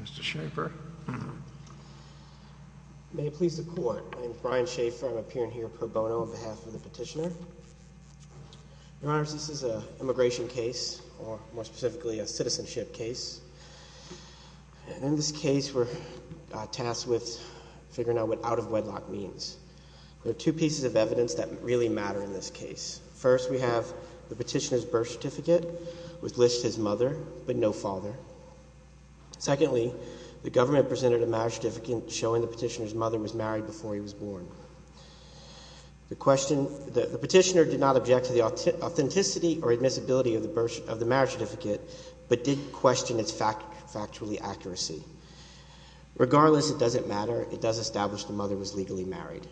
Mr. Shaffer, may it please the court. My name is Brian Shaffer. I'm appearing here per bono on behalf of the petitioner. Your Honor, this is an immigration case, or more specifically, a citizenship case. And in this case, we're tasked with figuring out what out-of-wedlock means. There are two pieces of evidence that really matter in this case. First, we have the petitioner's birth certificate, which lists his mother, but no father. Secondly, the government presented a marriage certificate showing the petitioner's mother was married before he was born. The petitioner did not object to the authenticity or admissibility of the marriage certificate, but did question its factual accuracy. Regardless, it doesn't matter. It does establish the mother was legally married.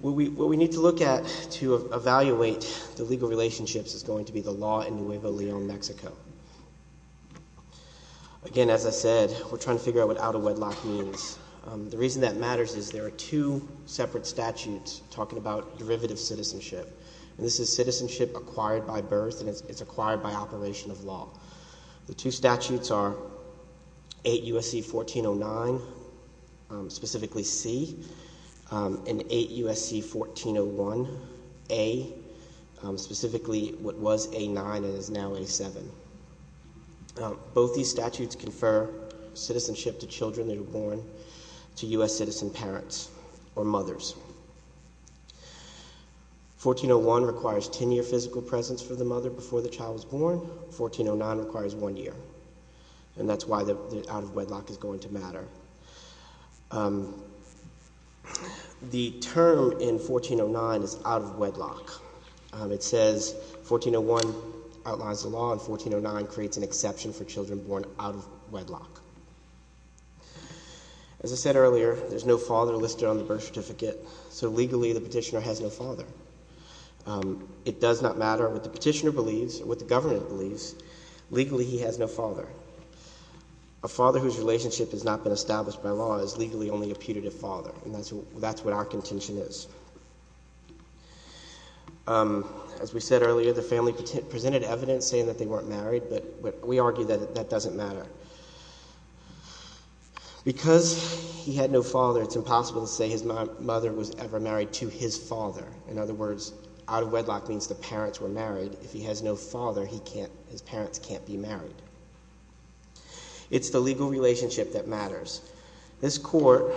What we need to look at to evaluate the legal relationships is going to be the law in Nuevo Leon, Mexico. Again, as I said, we're trying to figure out what out-of-wedlock means. The reason that matters is there are two separate statutes talking about derivative citizenship. And this is citizenship acquired by birth, and it's acquired by operation of law. The two statutes are 8 U.S.C. 1409, specifically C, and 8 U.S.C. 1401, A, specifically what was A9 and is now A7. Both these statutes confer citizenship to children that are born to U.S. citizen parents or mothers. 1401 requires 10-year physical presence for the mother before the child is born. 1409 requires one year. And that's why the out-of-wedlock is going to matter. The term in 1409 is out-of-wedlock. It says 1401 outlines the law, and 1409 creates an exception for children born out-of-wedlock. As I said earlier, there's no father listed on the birth certificate, so legally the petitioner has no father. It does not matter what the petitioner believes, what the government believes. Legally he has no father. A father whose relationship has not been established by law is legally only a putative father, and that's what our contention is. As we said earlier, the family presented evidence saying that they weren't married, but we argue that that doesn't matter. Because he had no father, it's impossible to say his mother was ever married to his father. In other words, out-of-wedlock means the parents were married. If he has no father, his parents can't be married. It's the legal concept. The court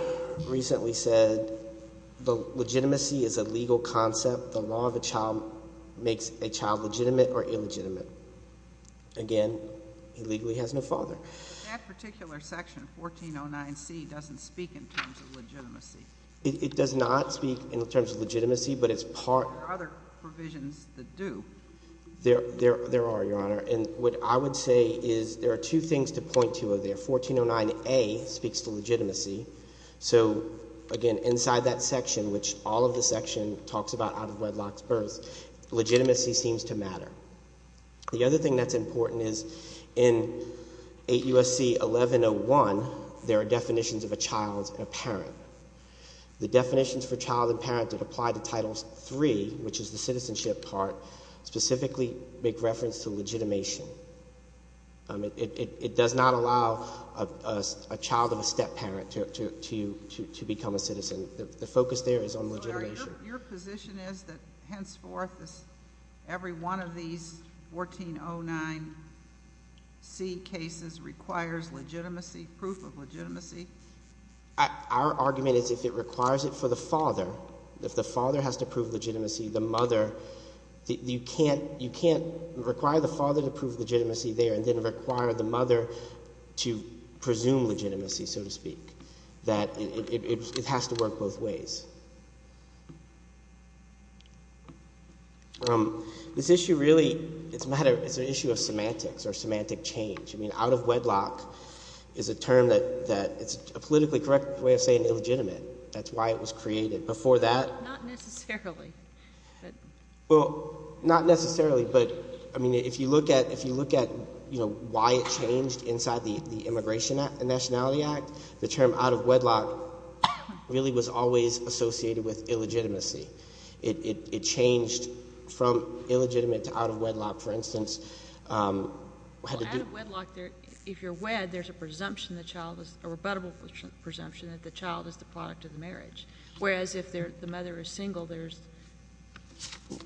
recently said the legitimacy is a legal concept. The law of a child makes a child legitimate or illegitimate. Again, he legally has no father. But that particular section, 1409C, doesn't speak in terms of legitimacy. It does not speak in terms of legitimacy, but it's part... There are other provisions that do. There are, Your Honor, and what I would say is there are two things to point to there. 1409A speaks to legitimacy. So, again, inside that section, which all of the section talks about out-of-wedlock births, legitimacy seems to matter. The other thing that's important is in 8 U.S.C. 1101, there are definitions of a child and a parent. The definitions for child and parent that apply to Title III, which is the citizenship part, specifically make reference to legitimation. It does not allow a child of a step-parent to become a citizen. The focus there is on legitimation. Your position is that, henceforth, every one of these 1409C cases requires legitimacy, proof of legitimacy? Our argument is if it requires it for the father, if the father has to prove legitimacy, the mother... You can't require the father to prove legitimacy there and then require the mother to presume legitimacy, so to speak. It has to work both ways. This issue really... It's an issue of semantics or semantic change. Out-of-wedlock is a term that... It's a politically correct way of saying illegitimate. That's why it was created. Before that... Not necessarily. Well, not necessarily, but if you look at why it changed inside the Immigration and Nationality Act, the term out-of-wedlock really was always associated with illegitimacy. It changed from illegitimate to out-of-wedlock. For instance... Well, out-of-wedlock, if you're wed, there's a presumption, a rebuttable presumption that the child is the product of the marriage. Whereas if the mother is single, there's...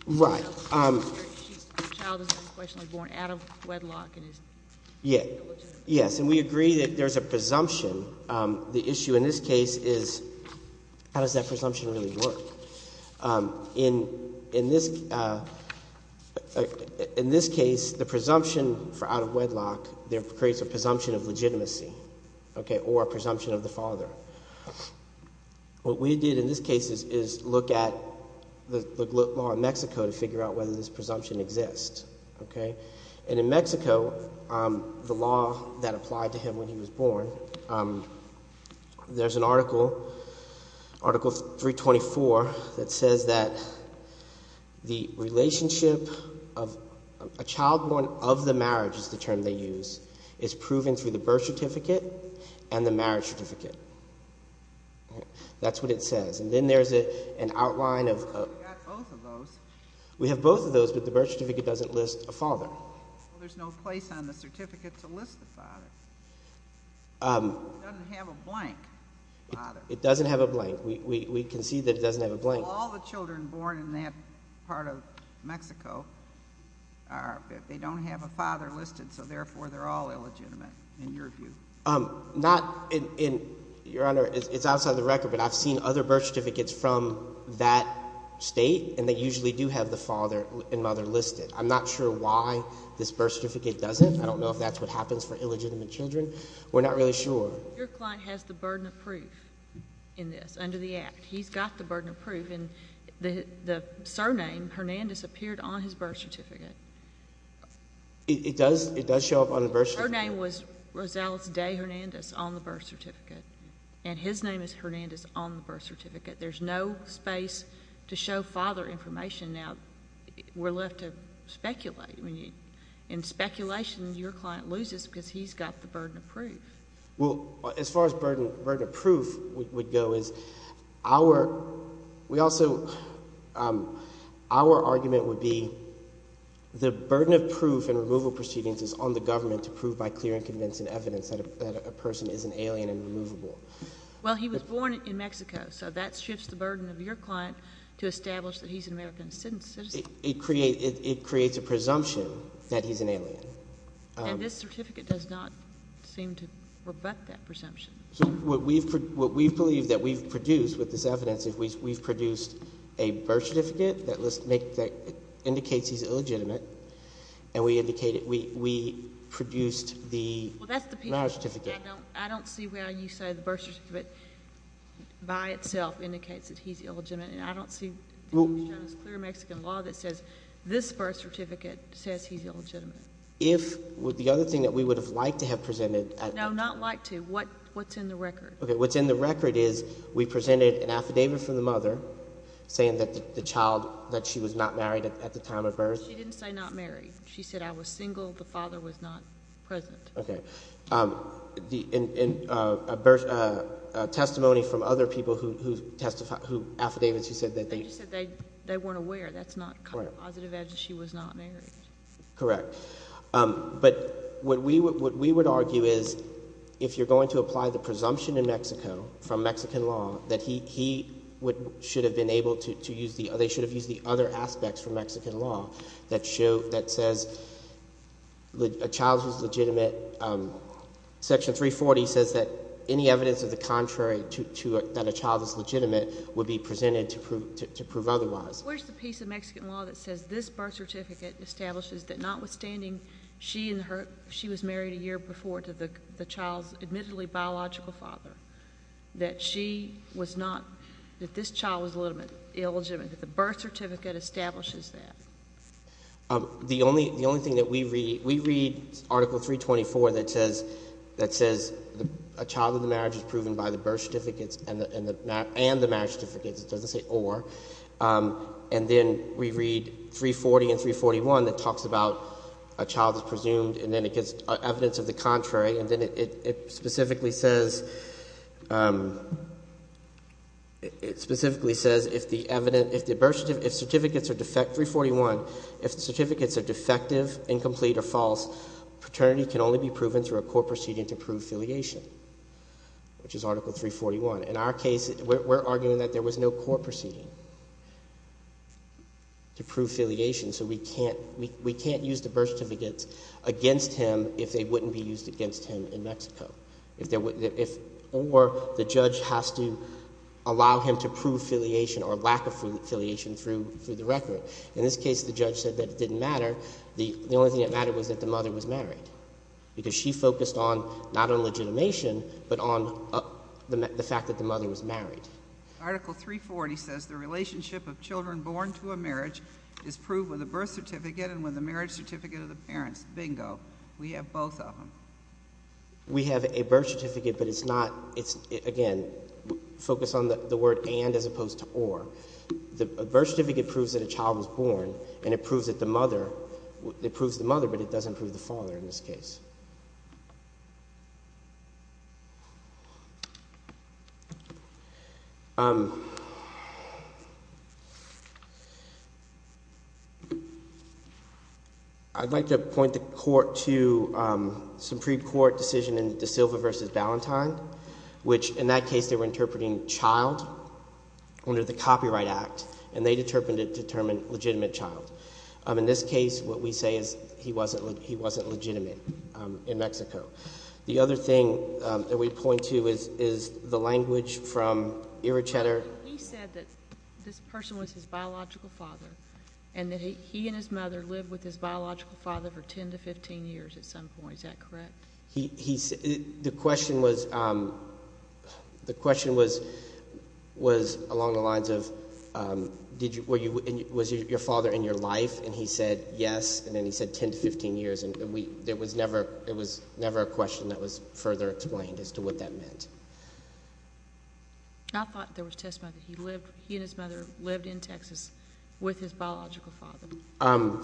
Right. The child is unquestionably born out-of-wedlock and is illegitimate. Yes, and we agree that there's a presumption. The issue in this case is how does that presumption really work? In this case, the presumption for out-of-wedlock creates a presumption of legitimacy or a presumption of the father. What we did in this case is look at the law in Mexico to figure out whether this presumption exists. In Mexico, the law that applied to him when he was born, there's an article, Article 324, that says that the relationship of... A child born of the marriage is the term they use. It's proven through the birth certificate and the marriage certificate. That's what it says. And then there's an outline of... We've got both of those. We have both of those, but the birth certificate doesn't list a father. Well, there's no place on the certificate to list the father. It doesn't have a blank father. It doesn't have a blank. We can see that it doesn't have a blank. Well, all the children born in that part of Mexico, they don't have a father listed, so therefore they're all illegitimate in your view. Your Honor, it's outside the record, but I've seen other birth certificates from that state, and they usually do have the father and mother listed. I'm not sure why this birth certificate doesn't. I don't know if that's what happens for illegitimate children. We're not really sure. Your client has the burden of proof in this under the Act. He's got the burden of proof. And the surname, Hernandez, appeared on his birth certificate. It does show up on the birth certificate. Her name was Rosales de Hernandez on the birth certificate, and his name is Hernandez on the birth certificate. There's no space to show father information. Now, we're left to speculate. In speculation, your client loses because he's got the burden of proof. Well, as far as burden of proof would go is our – we also – our argument would be the burden of proof in removal proceedings is on the government to prove by clear and convincing evidence that a person is an alien and removable. Well, he was born in Mexico, so that shifts the burden of your client to establish that he's an American citizen. It creates a presumption that he's an alien. And this certificate does not seem to rebut that presumption. So what we've – what we believe that we've produced with this evidence is we've produced a birth certificate that indicates he's illegitimate, and we indicated – we produced the marriage certificate. I don't see why you say the birth certificate by itself indicates that he's illegitimate. I don't see – there's no clear Mexican law that says this birth certificate says he's illegitimate. If – the other thing that we would have liked to have presented – No, not liked to. What's in the record? Okay. What's in the record is we presented an affidavit from the mother saying that the child – that she was not married at the time of birth. She didn't say not married. She said I was single. The father was not present. Okay. And a testimony from other people who affidavits who said that they – They just said they weren't aware. That's not kind of positive evidence she was not married. Correct. But what we would argue is if you're going to apply the presumption in Mexico from Mexican law that he should have been able to use the – that says a child is legitimate, Section 340 says that any evidence of the contrary to – that a child is legitimate would be presented to prove otherwise. Where's the piece of Mexican law that says this birth certificate establishes that notwithstanding she and her – she was married a year before to the child's admittedly biological father, that she was not – that this child was illegitimate. That the birth certificate establishes that. The only thing that we read – we read Article 324 that says a child in the marriage is proven by the birth certificates and the marriage certificates. It doesn't say or. And then we read 340 and 341 that talks about a child is presumed and then it gets evidence of the contrary. And then it specifically says – it specifically says if the birth certificate – if certificates are – 341, if certificates are defective, incomplete, or false, paternity can only be proven through a court proceeding to prove filiation, which is Article 341. In our case, we're arguing that there was no court proceeding to prove filiation. So we can't – we can't use the birth certificates against him if they wouldn't be used against him in Mexico. If there – or the judge has to allow him to prove filiation or lack of filiation through the record. In this case, the judge said that it didn't matter. The only thing that mattered was that the mother was married. Because she focused on – not on legitimation, but on the fact that the mother was married. Article 340 says the relationship of children born to a marriage is proved with a birth certificate and with a marriage certificate of the parents. Bingo. We have both of them. We have a birth certificate, but it's not – it's – again, focus on the word and as opposed to or. A birth certificate proves that a child was born and it proves that the mother – it proves the mother, but it doesn't prove the father in this case. I'd like to point the Court to some pre-court decision in De Silva v. Ballantyne, which in that case they were interpreting child under the Copyright Act, and they determined it to determine legitimate child. In this case, what we say is he wasn't legitimate in Mexico. The other thing that we point to is the language from Ira Cheddar. He said that this person was his biological father and that he and his mother lived with his biological father for 10 to 15 years at some point. Is that correct? He – the question was – the question was along the lines of did you – was your father in your life? And he said yes, and then he said 10 to 15 years, and we – there was never – it was never a question that was further explained as to what that meant. I thought there was testimony that he lived – he and his mother lived in Texas with his biological father.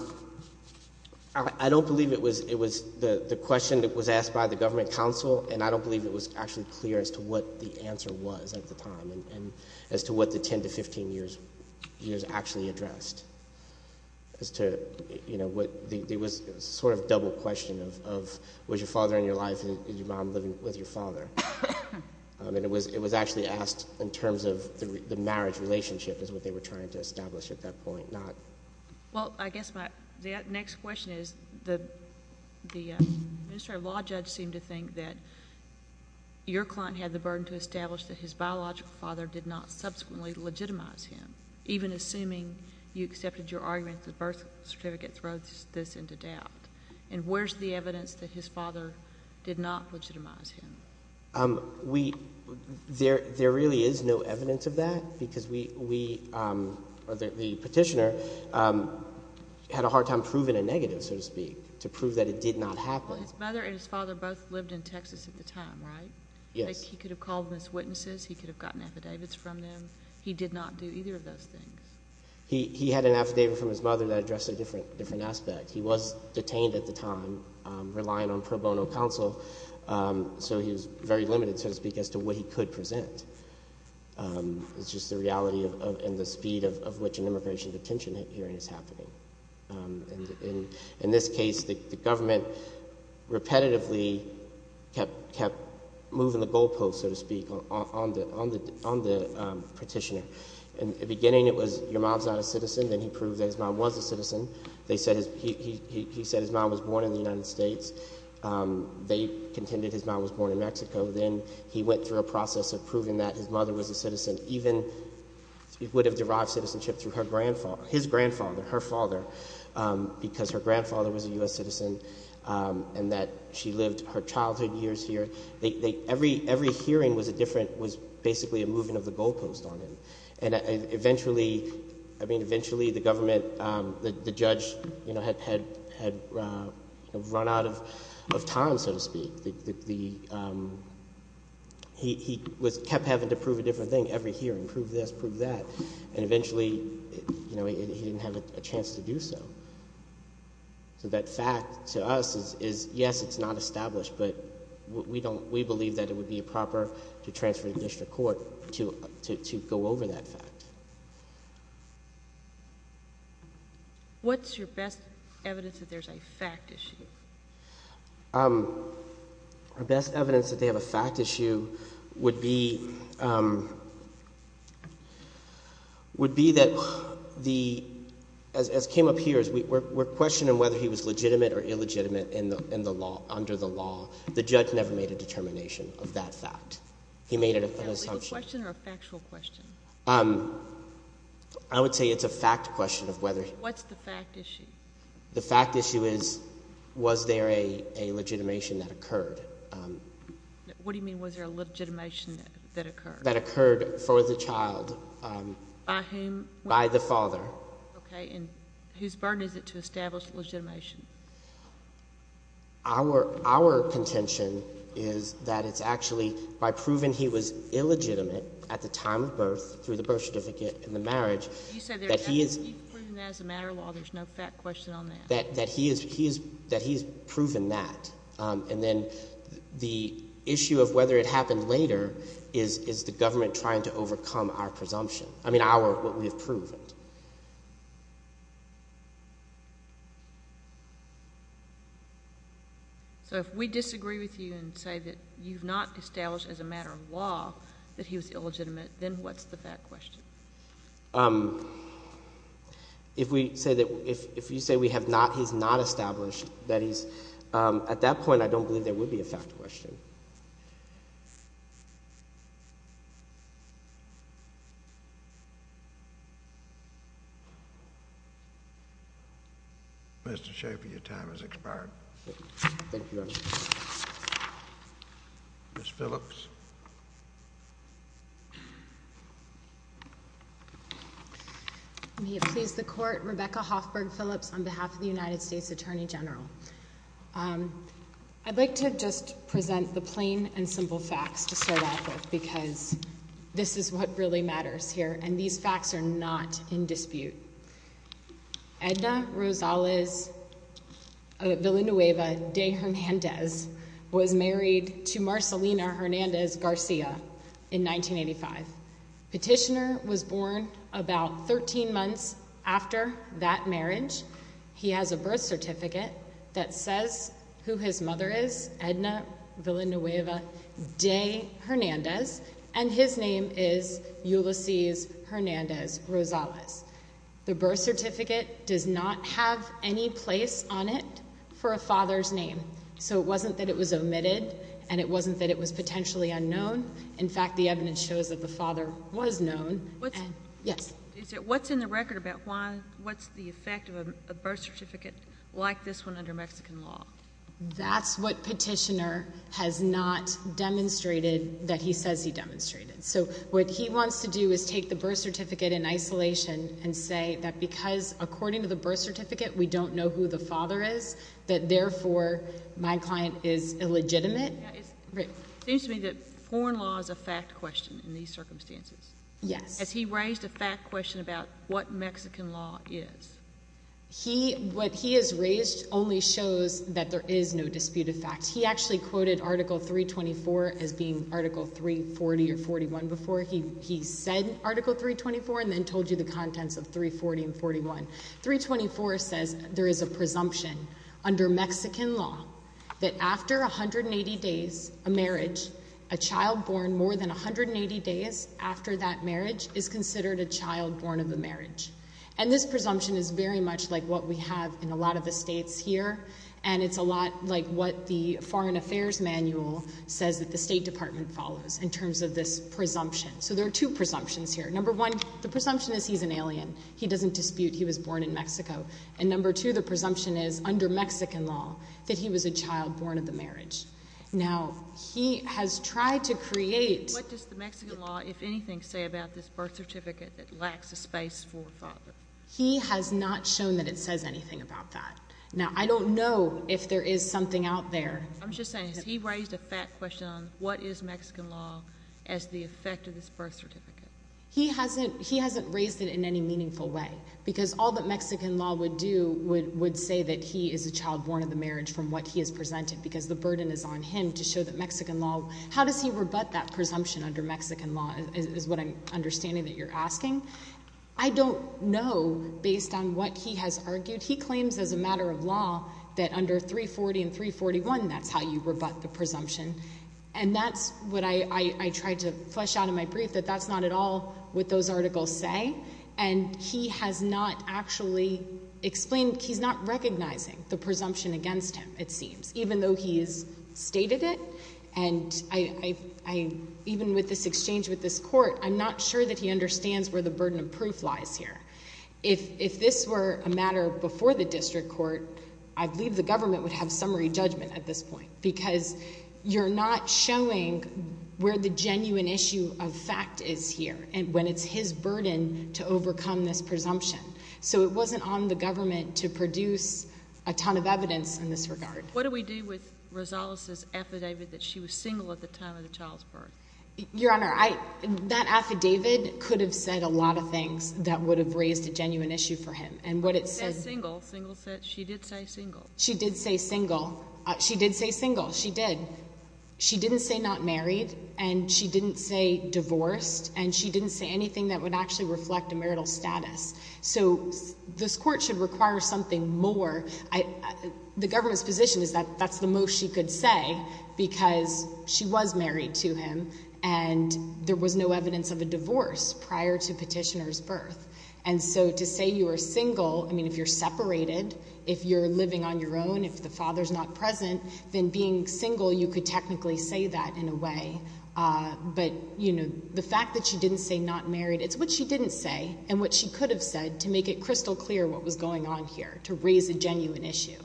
I don't believe it was – it was the question that was asked by the government counsel, and I don't believe it was actually clear as to what the answer was at the time and as to what the 10 to 15 years actually addressed. As to, you know, what – it was sort of a double question of was your father in your life and is your mom living with your father? And it was – it was actually asked in terms of the marriage relationship is what they were trying to establish at that point, not – Well, I guess my – the next question is the – the administrative law judge seemed to think that your client had the burden to establish that his biological father did not subsequently legitimize him, even assuming you accepted your argument that the birth certificate throws this into doubt. And where's the evidence that his father did not legitimize him? We – there really is no evidence of that because we – or the petitioner had a hard time proving a negative, so to speak, to prove that it did not happen. Well, his mother and his father both lived in Texas at the time, right? Yes. He could have called them as witnesses. He could have gotten affidavits from them. He did not do either of those things. He – he had an affidavit from his mother that addressed a different – different aspect. He was detained at the time, relying on pro bono counsel, so he was very limited, so to speak, as to what he could present. It's just the reality of – and the speed of which an immigration detention hearing is happening. And in this case, the government repetitively kept – kept moving the goalposts, so to speak, on the – on the petitioner. In the beginning, it was your mom's not a citizen. Then he proved that his mom was a citizen. They said his – he said his mom was born in the United States. They contended his mom was born in Mexico. Then he went through a process of proving that his mother was a citizen. Even – it would have derived citizenship through her grandfather – his grandfather, her father, because her grandfather was a U.S. citizen and that she lived her childhood years here. They – every – every hearing was a different – was basically a moving of the goalpost on him. And eventually – I mean, eventually the government – the judge, you know, had – had run out of time, so to speak. The – he was – kept having to prove a different thing every hearing, prove this, prove that. And eventually, you know, he didn't have a chance to do so. So that fact to us is, yes, it's not established, but we don't – we believe that it would be improper to transfer it to district court to go over that fact. What's your best evidence that there's a fact issue? Our best evidence that they have a fact issue would be – would be that the – as came up here, we're questioning whether he was legitimate or illegitimate in the law – under the law. The judge never made a determination of that fact. He made it an assumption. Was that a legal question or a factual question? I would say it's a fact question of whether – What's the fact issue? The fact issue is, was there a legitimation that occurred? What do you mean, was there a legitimation that occurred? That occurred for the child. By whom? By the father. Okay. And whose burden is it to establish a legitimation? Our – our contention is that it's actually by proving he was illegitimate at the time of birth, through the birth certificate and the marriage, that he is – What's your question on that? That he is – that he has proven that. And then the issue of whether it happened later is the government trying to overcome our presumption – I mean our – what we have proven. So if we disagree with you and say that you've not established as a matter of law that he was illegitimate, then what's the fact question? If we say that – if you say we have not – he's not established that he's – at that point, I don't believe there would be a fact question. Mr. Schaffer, your time has expired. Thank you, Your Honor. Ms. Phillips. May it please the Court, Rebecca Hoffberg Phillips on behalf of the United States Attorney General. I'd like to just present the plain and simple facts to start off with because this is what really matters here, and these facts are not in dispute. Edna Rosales Villanueva de Hernandez was married to Marcelina Hernandez Garcia in 1985. Petitioner was born about 13 months after that marriage. He has a birth certificate that says who his mother is, Edna Villanueva de Hernandez, and his name is Ulysses Hernandez Rosales. The birth certificate does not have any place on it for a father's name, so it wasn't that it was omitted and it wasn't that it was potentially unknown. In fact, the evidence shows that the father was known. What's in the record about why – what's the effect of a birth certificate like this one under Mexican law? That's what Petitioner has not demonstrated that he says he demonstrated. So what he wants to do is take the birth certificate in isolation and say that because, according to the birth certificate, we don't know who the father is, that, therefore, my client is illegitimate. It seems to me that foreign law is a fact question in these circumstances. Yes. Has he raised a fact question about what Mexican law is? He – what he has raised only shows that there is no dispute of facts. He actually quoted Article 324 as being Article 340 or 41 before. He said Article 324 and then told you the contents of 340 and 41. 324 says there is a presumption under Mexican law that after 180 days of marriage, a child born more than 180 days after that marriage is considered a child born of a marriage. And this presumption is very much like what we have in a lot of the states here, and it's a lot like what the Foreign Affairs Manual says that the State Department follows in terms of this presumption. So there are two presumptions here. Number one, the presumption is he's an alien. He doesn't dispute he was born in Mexico. And number two, the presumption is under Mexican law that he was a child born of the marriage. Now, he has tried to create – What does the Mexican law, if anything, say about this birth certificate that lacks a space for a father? He has not shown that it says anything about that. Now, I don't know if there is something out there – I'm just saying, has he raised a fact question on what is Mexican law as the effect of this birth certificate? He hasn't raised it in any meaningful way because all that Mexican law would do would say that he is a child born of the marriage from what he has presented because the burden is on him to show that Mexican law – How does he rebut that presumption under Mexican law is what I'm understanding that you're asking. I don't know based on what he has argued. He claims as a matter of law that under 340 and 341, that's how you rebut the presumption. And that's what I tried to flesh out in my brief, that that's not at all what those articles say. And he has not actually explained – he's not recognizing the presumption against him, it seems, even though he has stated it. And I – even with this exchange with this court, I'm not sure that he understands where the burden of proof lies here. If this were a matter before the district court, I believe the government would have summary judgment at this point because you're not showing where the genuine issue of fact is here and when it's his burden to overcome this presumption. So it wasn't on the government to produce a ton of evidence in this regard. What do we do with Rosales' affidavit that she was single at the time of the child's birth? Your Honor, I – that affidavit could have said a lot of things that would have raised a genuine issue for him. And what it said – Single, single – she did say single. She did say single. She did say single. She did. She didn't say not married. And she didn't say divorced. And she didn't say anything that would actually reflect a marital status. So this court should require something more. The government's position is that that's the most she could say because she was married to him and there was no evidence of a divorce prior to Petitioner's birth. And so to say you were single, I mean, if you're separated, if you're living on your own, if the father's not present, then being single you could technically say that in a way. But, you know, the fact that she didn't say not married, it's what she didn't say and what she could have said to make it crystal clear what was going on here, to raise a genuine issue.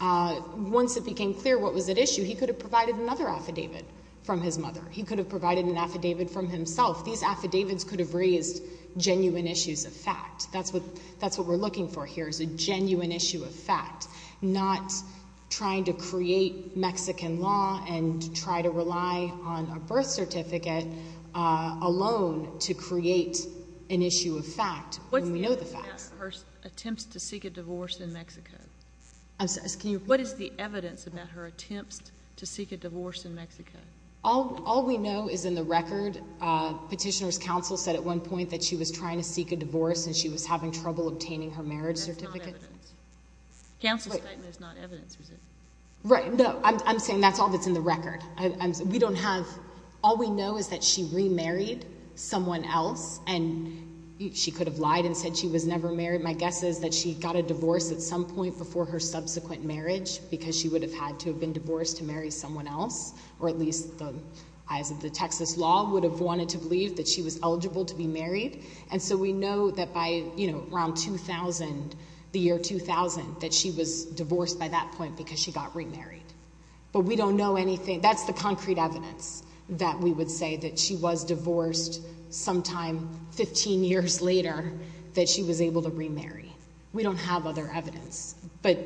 Once it became clear what was at issue, he could have provided another affidavit from his mother. He could have provided an affidavit from himself. These affidavits could have raised genuine issues of fact. That's what we're looking for here is a genuine issue of fact, not trying to create Mexican law and try to rely on a birth certificate alone to create an issue of fact. What's the evidence about her attempts to seek a divorce in Mexico? What is the evidence about her attempts to seek a divorce in Mexico? All we know is in the record. Petitioner's counsel said at one point that she was trying to seek a divorce and she was having trouble obtaining her marriage certificate. That's not evidence. Counsel's statement is not evidence, is it? Right. No. I'm saying that's all that's in the record. We don't have—all we know is that she remarried someone else, and she could have lied and said she was never married. My guess is that she got a divorce at some point before her subsequent marriage because she would have had to have been divorced to marry someone else, or at least the eyes of the Texas law would have wanted to believe that she was eligible to be married. And so we know that by, you know, around 2000, the year 2000, that she was divorced by that point because she got remarried. But we don't know anything—that's the concrete evidence that we would say that she was divorced sometime 15 years later that she was able to remarry. We don't have other evidence. But,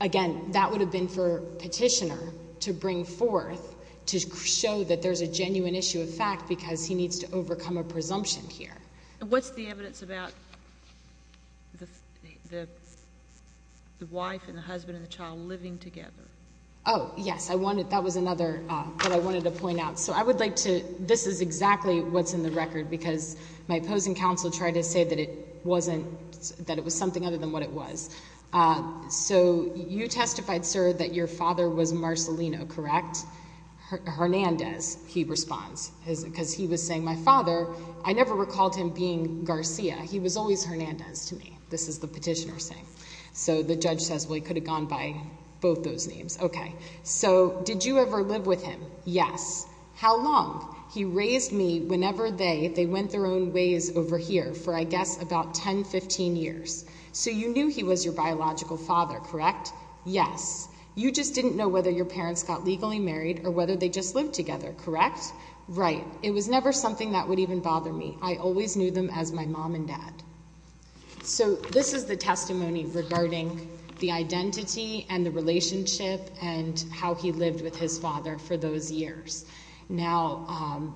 again, that would have been for Petitioner to bring forth to show that there's a genuine issue of fact because he needs to overcome a presumption here. And what's the evidence about the wife and the husband and the child living together? Oh, yes. I wanted—that was another that I wanted to point out. So I would like to—this is exactly what's in the record because my opposing counsel tried to say that it wasn't—that it was something other than what it was. So you testified, sir, that your father was Marcelino, correct? Hernandez, he responds, because he was saying, my father, I never recalled him being Garcia. He was always Hernandez to me, this is the petitioner saying. So the judge says, well, he could have gone by both those names. Okay. So did you ever live with him? Yes. How long? He raised me whenever they—they went their own ways over here for, I guess, about 10, 15 years. So you knew he was your biological father, correct? Yes. You just didn't know whether your parents got legally married or whether they just lived together, correct? Right. It was never something that would even bother me. I always knew them as my mom and dad. So this is the testimony regarding the identity and the relationship and how he lived with his father for those years. Now,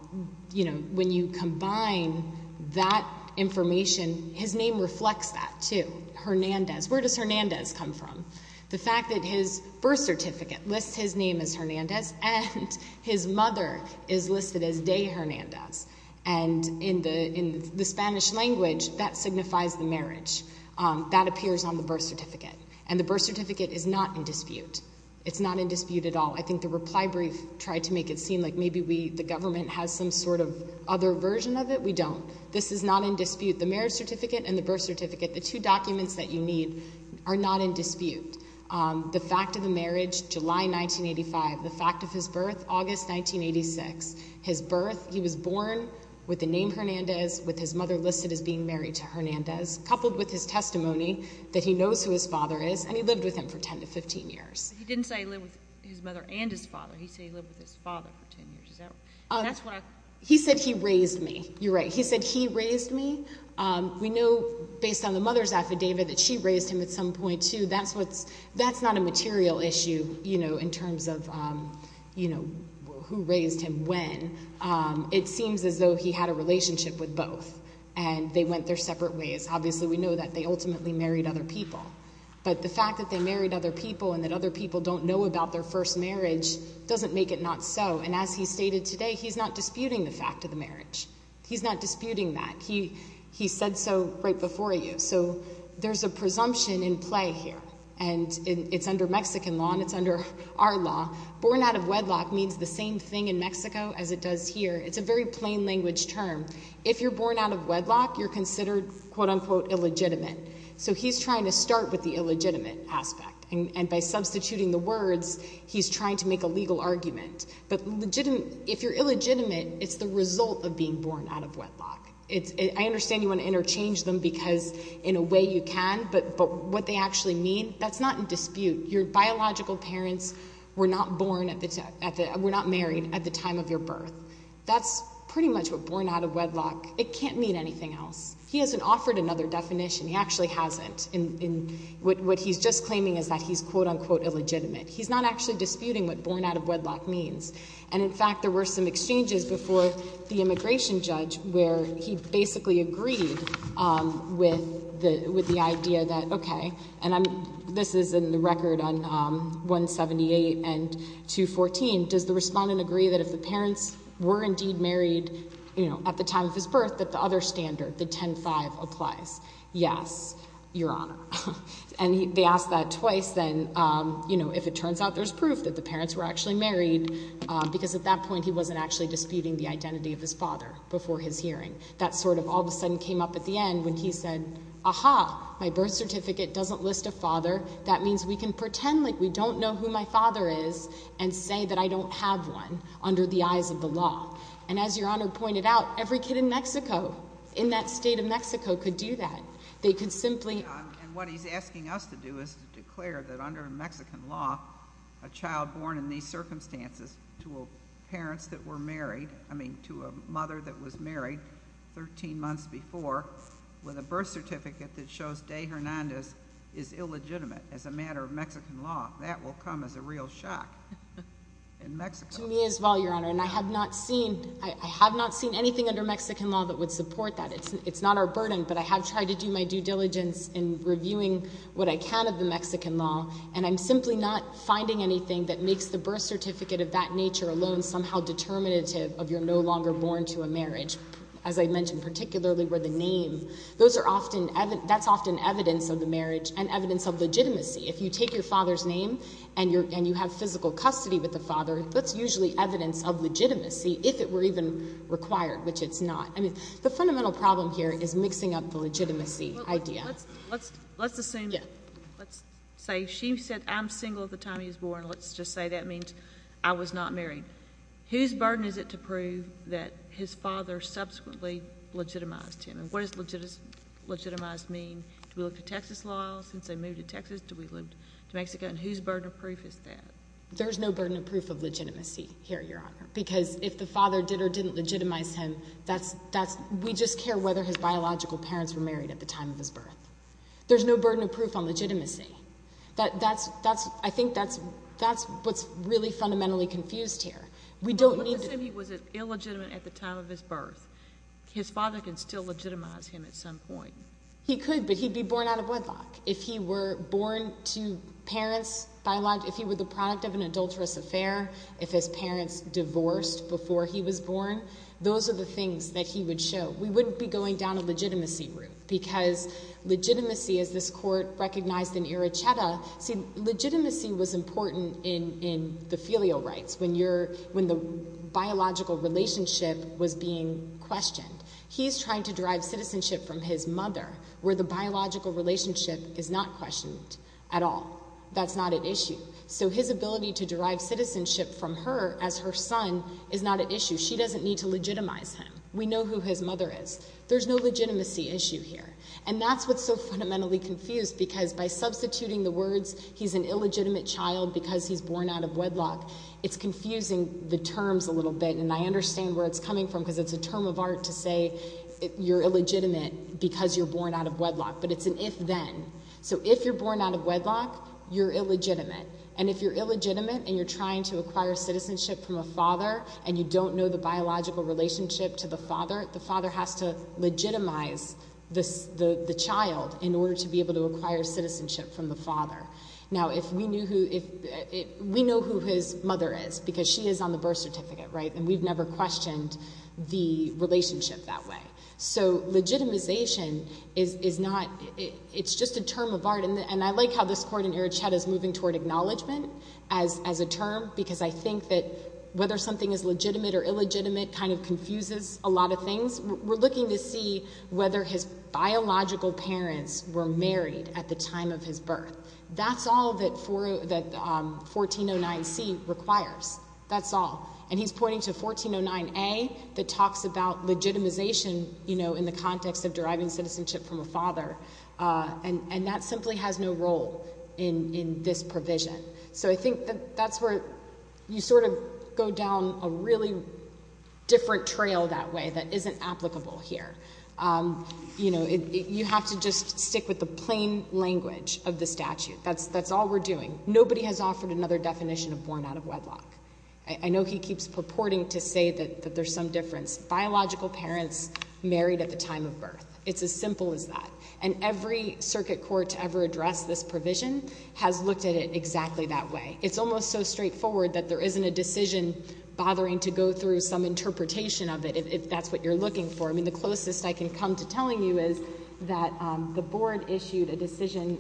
you know, when you combine that information, his name reflects that too, Hernandez. Where does Hernandez come from? The fact that his birth certificate lists his name as Hernandez and his mother is listed as de Hernandez. And in the Spanish language, that signifies the marriage. That appears on the birth certificate. And the birth certificate is not in dispute. It's not in dispute at all. I think the reply brief tried to make it seem like maybe we, the government, has some sort of other version of it. We don't. This is not in dispute. The marriage certificate and the birth certificate, the two documents that you need, are not in dispute. The fact of the marriage, July 1985. The fact of his birth, August 1986. His birth, he was born with the name Hernandez, with his mother listed as being married to Hernandez, coupled with his testimony that he knows who his father is, and he lived with him for 10 to 15 years. He didn't say he lived with his mother and his father. He said he lived with his father for 10 years. He said he raised me. You're right. He said he raised me. We know, based on the mother's affidavit, that she raised him at some point too. That's not a material issue, you know, in terms of, you know, who raised him when. It seems as though he had a relationship with both, and they went their separate ways. Obviously, we know that they ultimately married other people. But the fact that they married other people and that other people don't know about their first marriage doesn't make it not so. And as he stated today, he's not disputing the fact of the marriage. He's not disputing that. He said so right before you. So there's a presumption in play here, and it's under Mexican law and it's under our law. Born out of wedlock means the same thing in Mexico as it does here. It's a very plain language term. If you're born out of wedlock, you're considered, quote, unquote, illegitimate. So he's trying to start with the illegitimate aspect. And by substituting the words, he's trying to make a legal argument. But if you're illegitimate, it's the result of being born out of wedlock. I understand you want to interchange them because in a way you can, but what they actually mean, that's not in dispute. Your biological parents were not born at the time, were not married at the time of your birth. That's pretty much what born out of wedlock, it can't mean anything else. He hasn't offered another definition. He actually hasn't. What he's just claiming is that he's, quote, unquote, illegitimate. He's not actually disputing what born out of wedlock means. And, in fact, there were some exchanges before the immigration judge where he basically agreed with the idea that, okay, and this is in the record on 178 and 214, and does the respondent agree that if the parents were indeed married at the time of his birth that the other standard, the 10-5, applies? Yes, Your Honor. And they asked that twice, then, you know, if it turns out there's proof that the parents were actually married, because at that point he wasn't actually disputing the identity of his father before his hearing. That sort of all of a sudden came up at the end when he said, aha, my birth certificate doesn't list a father. That means we can pretend like we don't know who my father is and say that I don't have one under the eyes of the law. And as Your Honor pointed out, every kid in Mexico, in that state of Mexico, could do that. They could simply... And what he's asking us to do is to declare that under Mexican law, a child born in these circumstances to a parents that were married, I mean, to a mother that was married 13 months before, with a birth certificate that shows De Hernandez is illegitimate as a matter of Mexican law. That will come as a real shock in Mexico. To me as well, Your Honor. And I have not seen anything under Mexican law that would support that. It's not our burden, but I have tried to do my due diligence in reviewing what I can of the Mexican law, and I'm simply not finding anything that makes the birth certificate of that nature alone somehow determinative of you're no longer born to a marriage. As I mentioned, particularly where the name, that's often evidence of the marriage and evidence of legitimacy. If you take your father's name and you have physical custody with the father, that's usually evidence of legitimacy, if it were even required, which it's not. I mean, the fundamental problem here is mixing up the legitimacy idea. Let's assume, let's say she said I'm single at the time he was born. Let's just say that means I was not married. Whose burden is it to prove that his father subsequently legitimized him? And what does legitimized mean? Do we look to Texas law since they moved to Texas? Do we look to Mexico? And whose burden of proof is that? There's no burden of proof of legitimacy here, Your Honor, because if the father did or didn't legitimize him, we just care whether his biological parents were married at the time of his birth. There's no burden of proof on legitimacy. I think that's what's really fundamentally confused here. We don't need to. But let's say he was illegitimate at the time of his birth. His father can still legitimize him at some point. He could, but he'd be born out of wedlock. If he were born to parents, if he were the product of an adulterous affair, if his parents divorced before he was born, those are the things that he would show. We wouldn't be going down a legitimacy route because legitimacy, as this court recognized in Iracheta, see, legitimacy was important in the filial rights when the biological relationship was being questioned. He's trying to derive citizenship from his mother where the biological relationship is not questioned at all. That's not at issue. So his ability to derive citizenship from her as her son is not at issue. She doesn't need to legitimize him. We know who his mother is. There's no legitimacy issue here. And that's what's so fundamentally confused because by substituting the words, he's an illegitimate child because he's born out of wedlock, it's confusing the terms a little bit. And I understand where it's coming from because it's a term of art to say you're illegitimate because you're born out of wedlock. But it's an if-then. So if you're born out of wedlock, you're illegitimate. And if you're illegitimate and you're trying to acquire citizenship from a father and you don't know the biological relationship to the father, the father has to legitimize the child in order to be able to acquire citizenship from the father. Now, we know who his mother is because she is on the birth certificate, right? And we've never questioned the relationship that way. So legitimization is not – it's just a term of art. And I like how this Court in Erichetta is moving toward acknowledgment as a term because I think that whether something is legitimate or illegitimate kind of confuses a lot of things. We're looking to see whether his biological parents were married at the time of his birth. That's all that 1409C requires. That's all. And he's pointing to 1409A that talks about legitimization, you know, in the context of deriving citizenship from a father. And that simply has no role in this provision. So I think that that's where you sort of go down a really different trail that way that isn't applicable here. You know, you have to just stick with the plain language of the statute. That's all we're doing. Nobody has offered another definition of born out of wedlock. I know he keeps purporting to say that there's some difference. Biological parents married at the time of birth. It's as simple as that. And every circuit court to ever address this provision has looked at it exactly that way. It's almost so straightforward that there isn't a decision bothering to go through some interpretation of it, if that's what you're looking for. I mean, the closest I can come to telling you is that the Board issued a decision,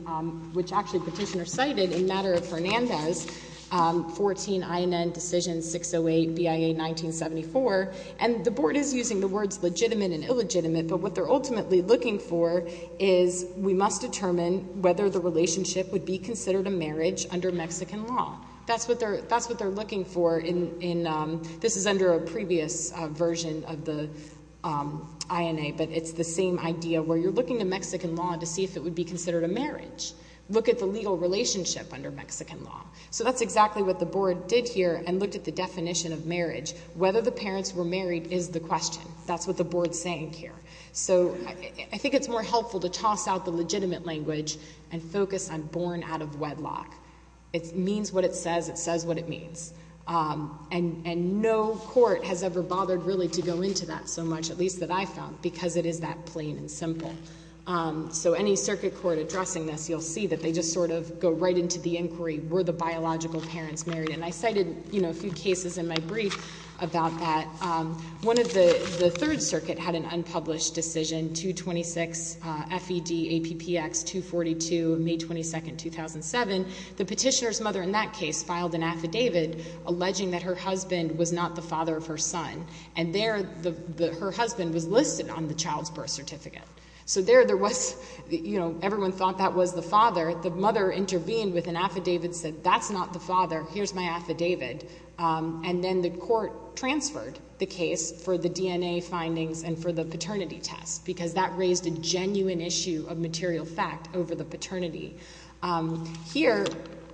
which actually Petitioner cited, in matter of Fernandez, 14 INN Decision 608, BIA 1974. And the Board is using the words legitimate and illegitimate. But what they're ultimately looking for is we must determine whether the relationship would be considered a marriage under Mexican law. That's what they're looking for in this is under a previous version of the INA, but it's the same idea where you're looking to Mexican law to see if it would be considered a marriage. Look at the legal relationship under Mexican law. So that's exactly what the Board did here and looked at the definition of marriage. Whether the parents were married is the question. That's what the Board's saying here. So I think it's more helpful to toss out the legitimate language and focus on born out of wedlock. It means what it says. It says what it means. And no court has ever bothered really to go into that so much, at least that I found, because it is that plain and simple. So any circuit court addressing this, you'll see that they just sort of go right into the inquiry. Were the biological parents married? And I cited a few cases in my brief about that. The Third Circuit had an unpublished decision, 226 FED APPX 242, May 22, 2007. The petitioner's mother in that case filed an affidavit alleging that her husband was not the father of her son. And there her husband was listed on the child's birth certificate. So there there was, you know, everyone thought that was the father. The mother intervened with an affidavit, said, that's not the father. Here's my affidavit. And then the court transferred the case for the DNA findings and for the paternity test, because that raised a genuine issue of material fact over the paternity. Here,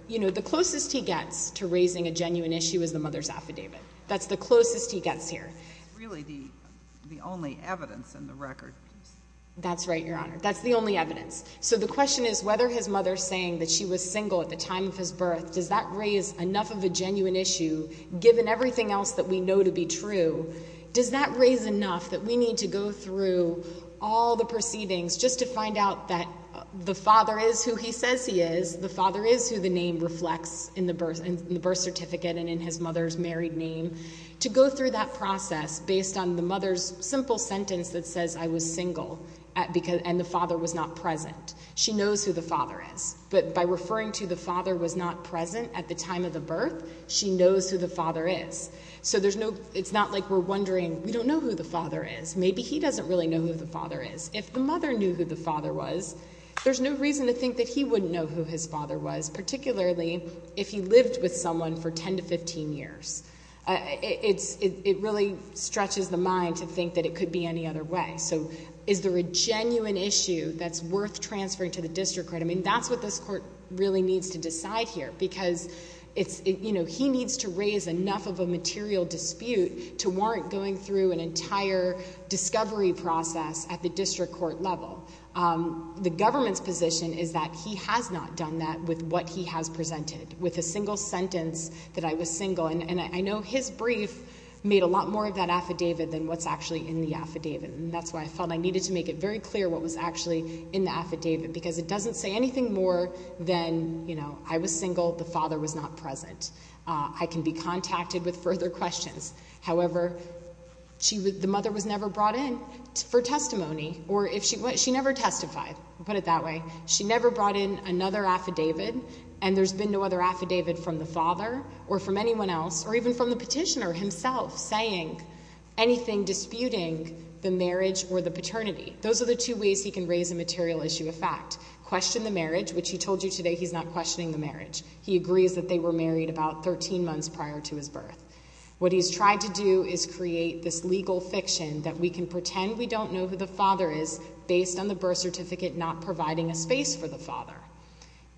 you know, the closest he gets to raising a genuine issue is the mother's affidavit. That's the closest he gets here. It's really the only evidence in the record. That's right, Your Honor. That's the only evidence. So the question is whether his mother saying that she was single at the time of his birth, does that raise enough of a genuine issue, given everything else that we know to be true, does that raise enough that we need to go through all the proceedings just to find out that the father is who he says he is, the father is who the name reflects in the birth certificate and in his mother's married name, to go through that process based on the mother's simple sentence that says, I was single, and the father was not present. She knows who the father is. But by referring to the father was not present at the time of the birth, she knows who the father is. So it's not like we're wondering, we don't know who the father is. Maybe he doesn't really know who the father is. If the mother knew who the father was, there's no reason to think that he wouldn't know who his father was, particularly if he lived with someone for 10 to 15 years. It really stretches the mind to think that it could be any other way. So is there a genuine issue that's worth transferring to the district court? I mean, that's what this court really needs to decide here because, you know, he needs to raise enough of a material dispute to warrant going through an entire discovery process at the district court level. The government's position is that he has not done that with what he has presented, with a single sentence that I was single. And I know his brief made a lot more of that affidavit than what's actually in the affidavit, and that's why I felt I needed to make it very clear what was actually in the affidavit, because it doesn't say anything more than, you know, I was single, the father was not present. I can be contacted with further questions. However, the mother was never brought in for testimony, or she never testified. We'll put it that way. She never brought in another affidavit, and there's been no other affidavit from the father or from anyone else or even from the petitioner himself saying anything disputing the marriage or the paternity. Those are the two ways he can raise a material issue of fact. Question the marriage, which he told you today he's not questioning the marriage. He agrees that they were married about 13 months prior to his birth. What he's tried to do is create this legal fiction that we can pretend we don't know who the father is based on the birth certificate not providing a space for the father.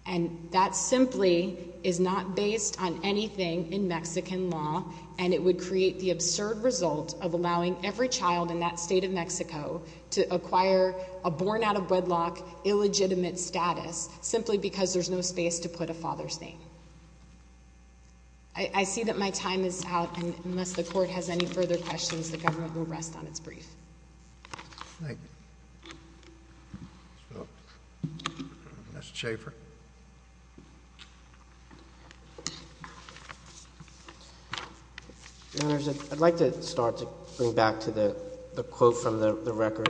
And that simply is not based on anything in Mexican law, and it would create the absurd result of allowing every child in that state of Mexico to acquire a born-out-of-wedlock illegitimate status simply because there's no space to put a father's name. I see that my time is out, and unless the Court has any further questions, the government will rest on its brief. Thank you. Mr. Schaffer. Your Honors, I'd like to start to bring back to the quote from the record.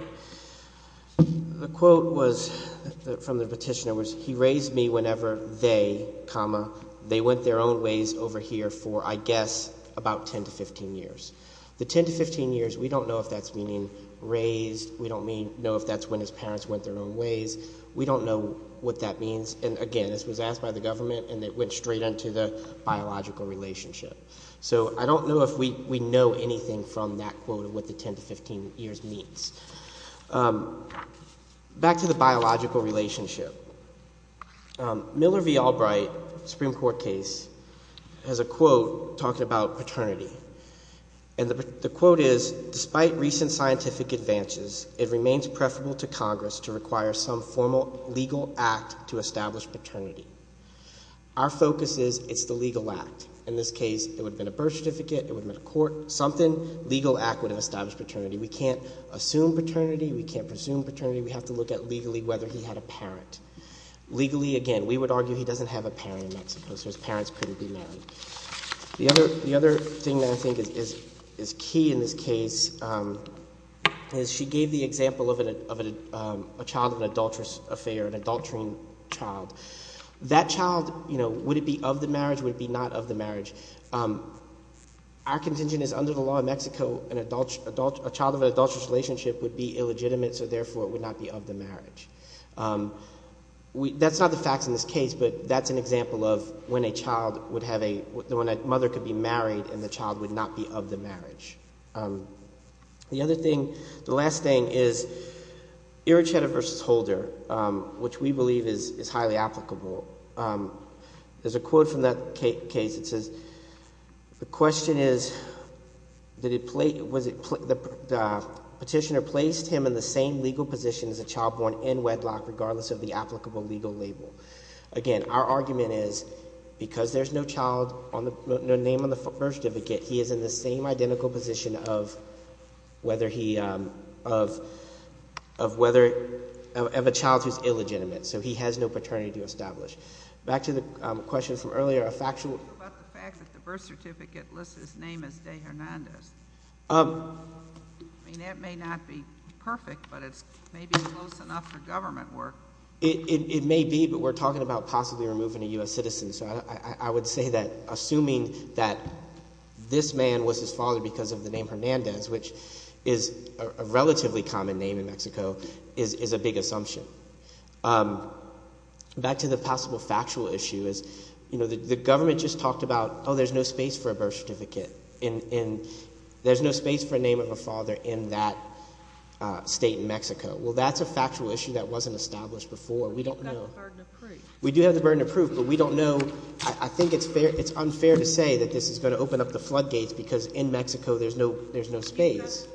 The quote from the petitioner was, He raised me whenever they, comma, they went their own ways over here for, I guess, about 10 to 15 years. The 10 to 15 years, we don't know if that's meaning raised. We don't know if that's when his parents went their own ways. We don't know what that means. And again, this was asked by the government, and it went straight into the biological relationship. So I don't know if we know anything from that quote of what the 10 to 15 years means. Back to the biological relationship. Miller v. Albright, Supreme Court case, has a quote talking about paternity. And the quote is, Despite recent scientific advances, it remains preferable to Congress to require some formal legal act to establish paternity. Our focus is it's the legal act. In this case, it would have been a birth certificate, it would have been a court, something, legal act would have established paternity. We can't assume paternity. We can't presume paternity. We have to look at legally whether he had a parent. Legally, again, we would argue he doesn't have a parent in Mexico, so his parents couldn't be married. The other thing that I think is key in this case is she gave the example of a child in an adulterous affair, an adulterine child. That child, would it be of the marriage, would it be not of the marriage? Our contention is under the law in Mexico, a child of an adulterous relationship would be illegitimate, so therefore it would not be of the marriage. That's not the facts in this case, but that's an example of when a child would have a, when a mother could be married and the child would not be of the marriage. The other thing, the last thing is Iracheta v. Holder, which we believe is highly applicable. There's a quote from that case that says, the question is, the petitioner placed him in the same legal position as a child born in wedlock regardless of the applicable legal label. Again, our argument is because there's no child, no name on the birth certificate, he is in the same identical position of whether he, of whether, of a child who's illegitimate. So he has no paternity to establish. Back to the question from earlier, a factual. What about the fact that the birth certificate lists his name as De Hernandez? I mean, that may not be perfect, but it's maybe close enough for government work. It may be, but we're talking about possibly removing a U.S. citizen. So I would say that assuming that this man was his father because of the name Hernandez, which is a relatively common name in Mexico, is a big assumption. Back to the possible factual issue is, you know, the government just talked about, oh, there's no space for a birth certificate. And there's no space for a name of a father in that state in Mexico. Well, that's a factual issue that wasn't established before. We don't know. We do have the burden of proof, but we don't know. I think it's unfair to say that this is going to open up the floodgates because in Mexico there's no space. So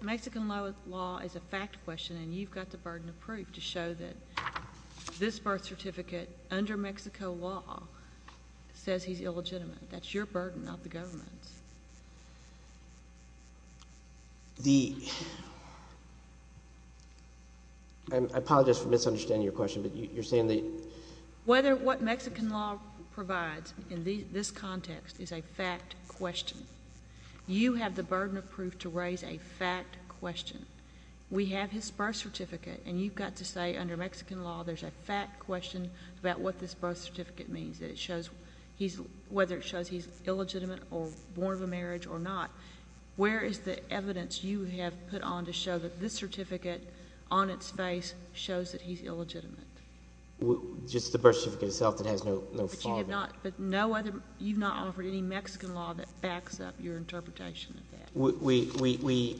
Mexican law is a fact question, and you've got the burden of proof to show that this birth certificate under Mexico law says he's illegitimate. That's your burden, not the government's. The – I apologize for misunderstanding your question, but you're saying the – Whether what Mexican law provides in this context is a fact question, you have the burden of proof to raise a fact question. We have his birth certificate, and you've got to say under Mexican law there's a fact question about what this birth certificate means, that it shows he's – whether it shows he's illegitimate or born of a marriage or not. Where is the evidence you have put on to show that this certificate on its face shows that he's illegitimate? Just the birth certificate itself that has no father. But you have not – but no other – you've not offered any Mexican law that backs up your interpretation of that. We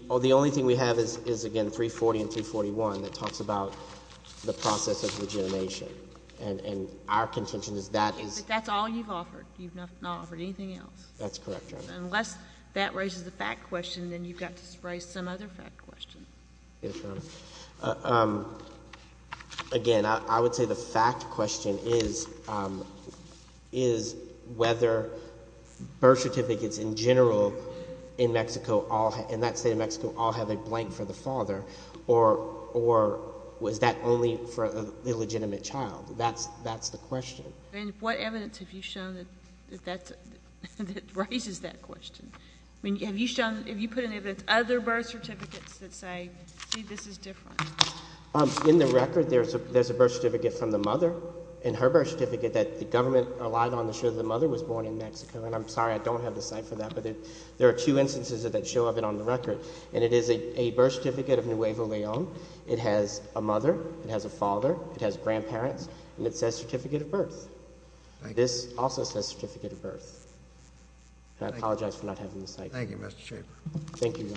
– the only thing we have is, again, 340 and 341 that talks about the process of rejuvenation, and our contention is that is – But that's all you've offered. You've not offered anything else. That's correct, Your Honor. Unless that raises the fact question, then you've got to raise some other fact question. Yes, Your Honor. Again, I would say the fact question is whether birth certificates in general in Mexico all – in that state of Mexico all have a blank for the father, or was that only for the illegitimate child? That's the question. And what evidence have you shown that that's – that raises that question? I mean, have you shown – have you put any of the other birth certificates that say, see, this is different? In the record, there's a birth certificate from the mother and her birth certificate that the government relied on to show the mother was born in Mexico. And I'm sorry I don't have the site for that, but there are two instances that show up on the record. And it is a birth certificate of Nuevo Leon. It has a mother. It has a father. It has grandparents. And it says certificate of birth. This also says certificate of birth. I apologize for not having the site. Thank you, Mr. Schaffer. Thank you, Your Honor.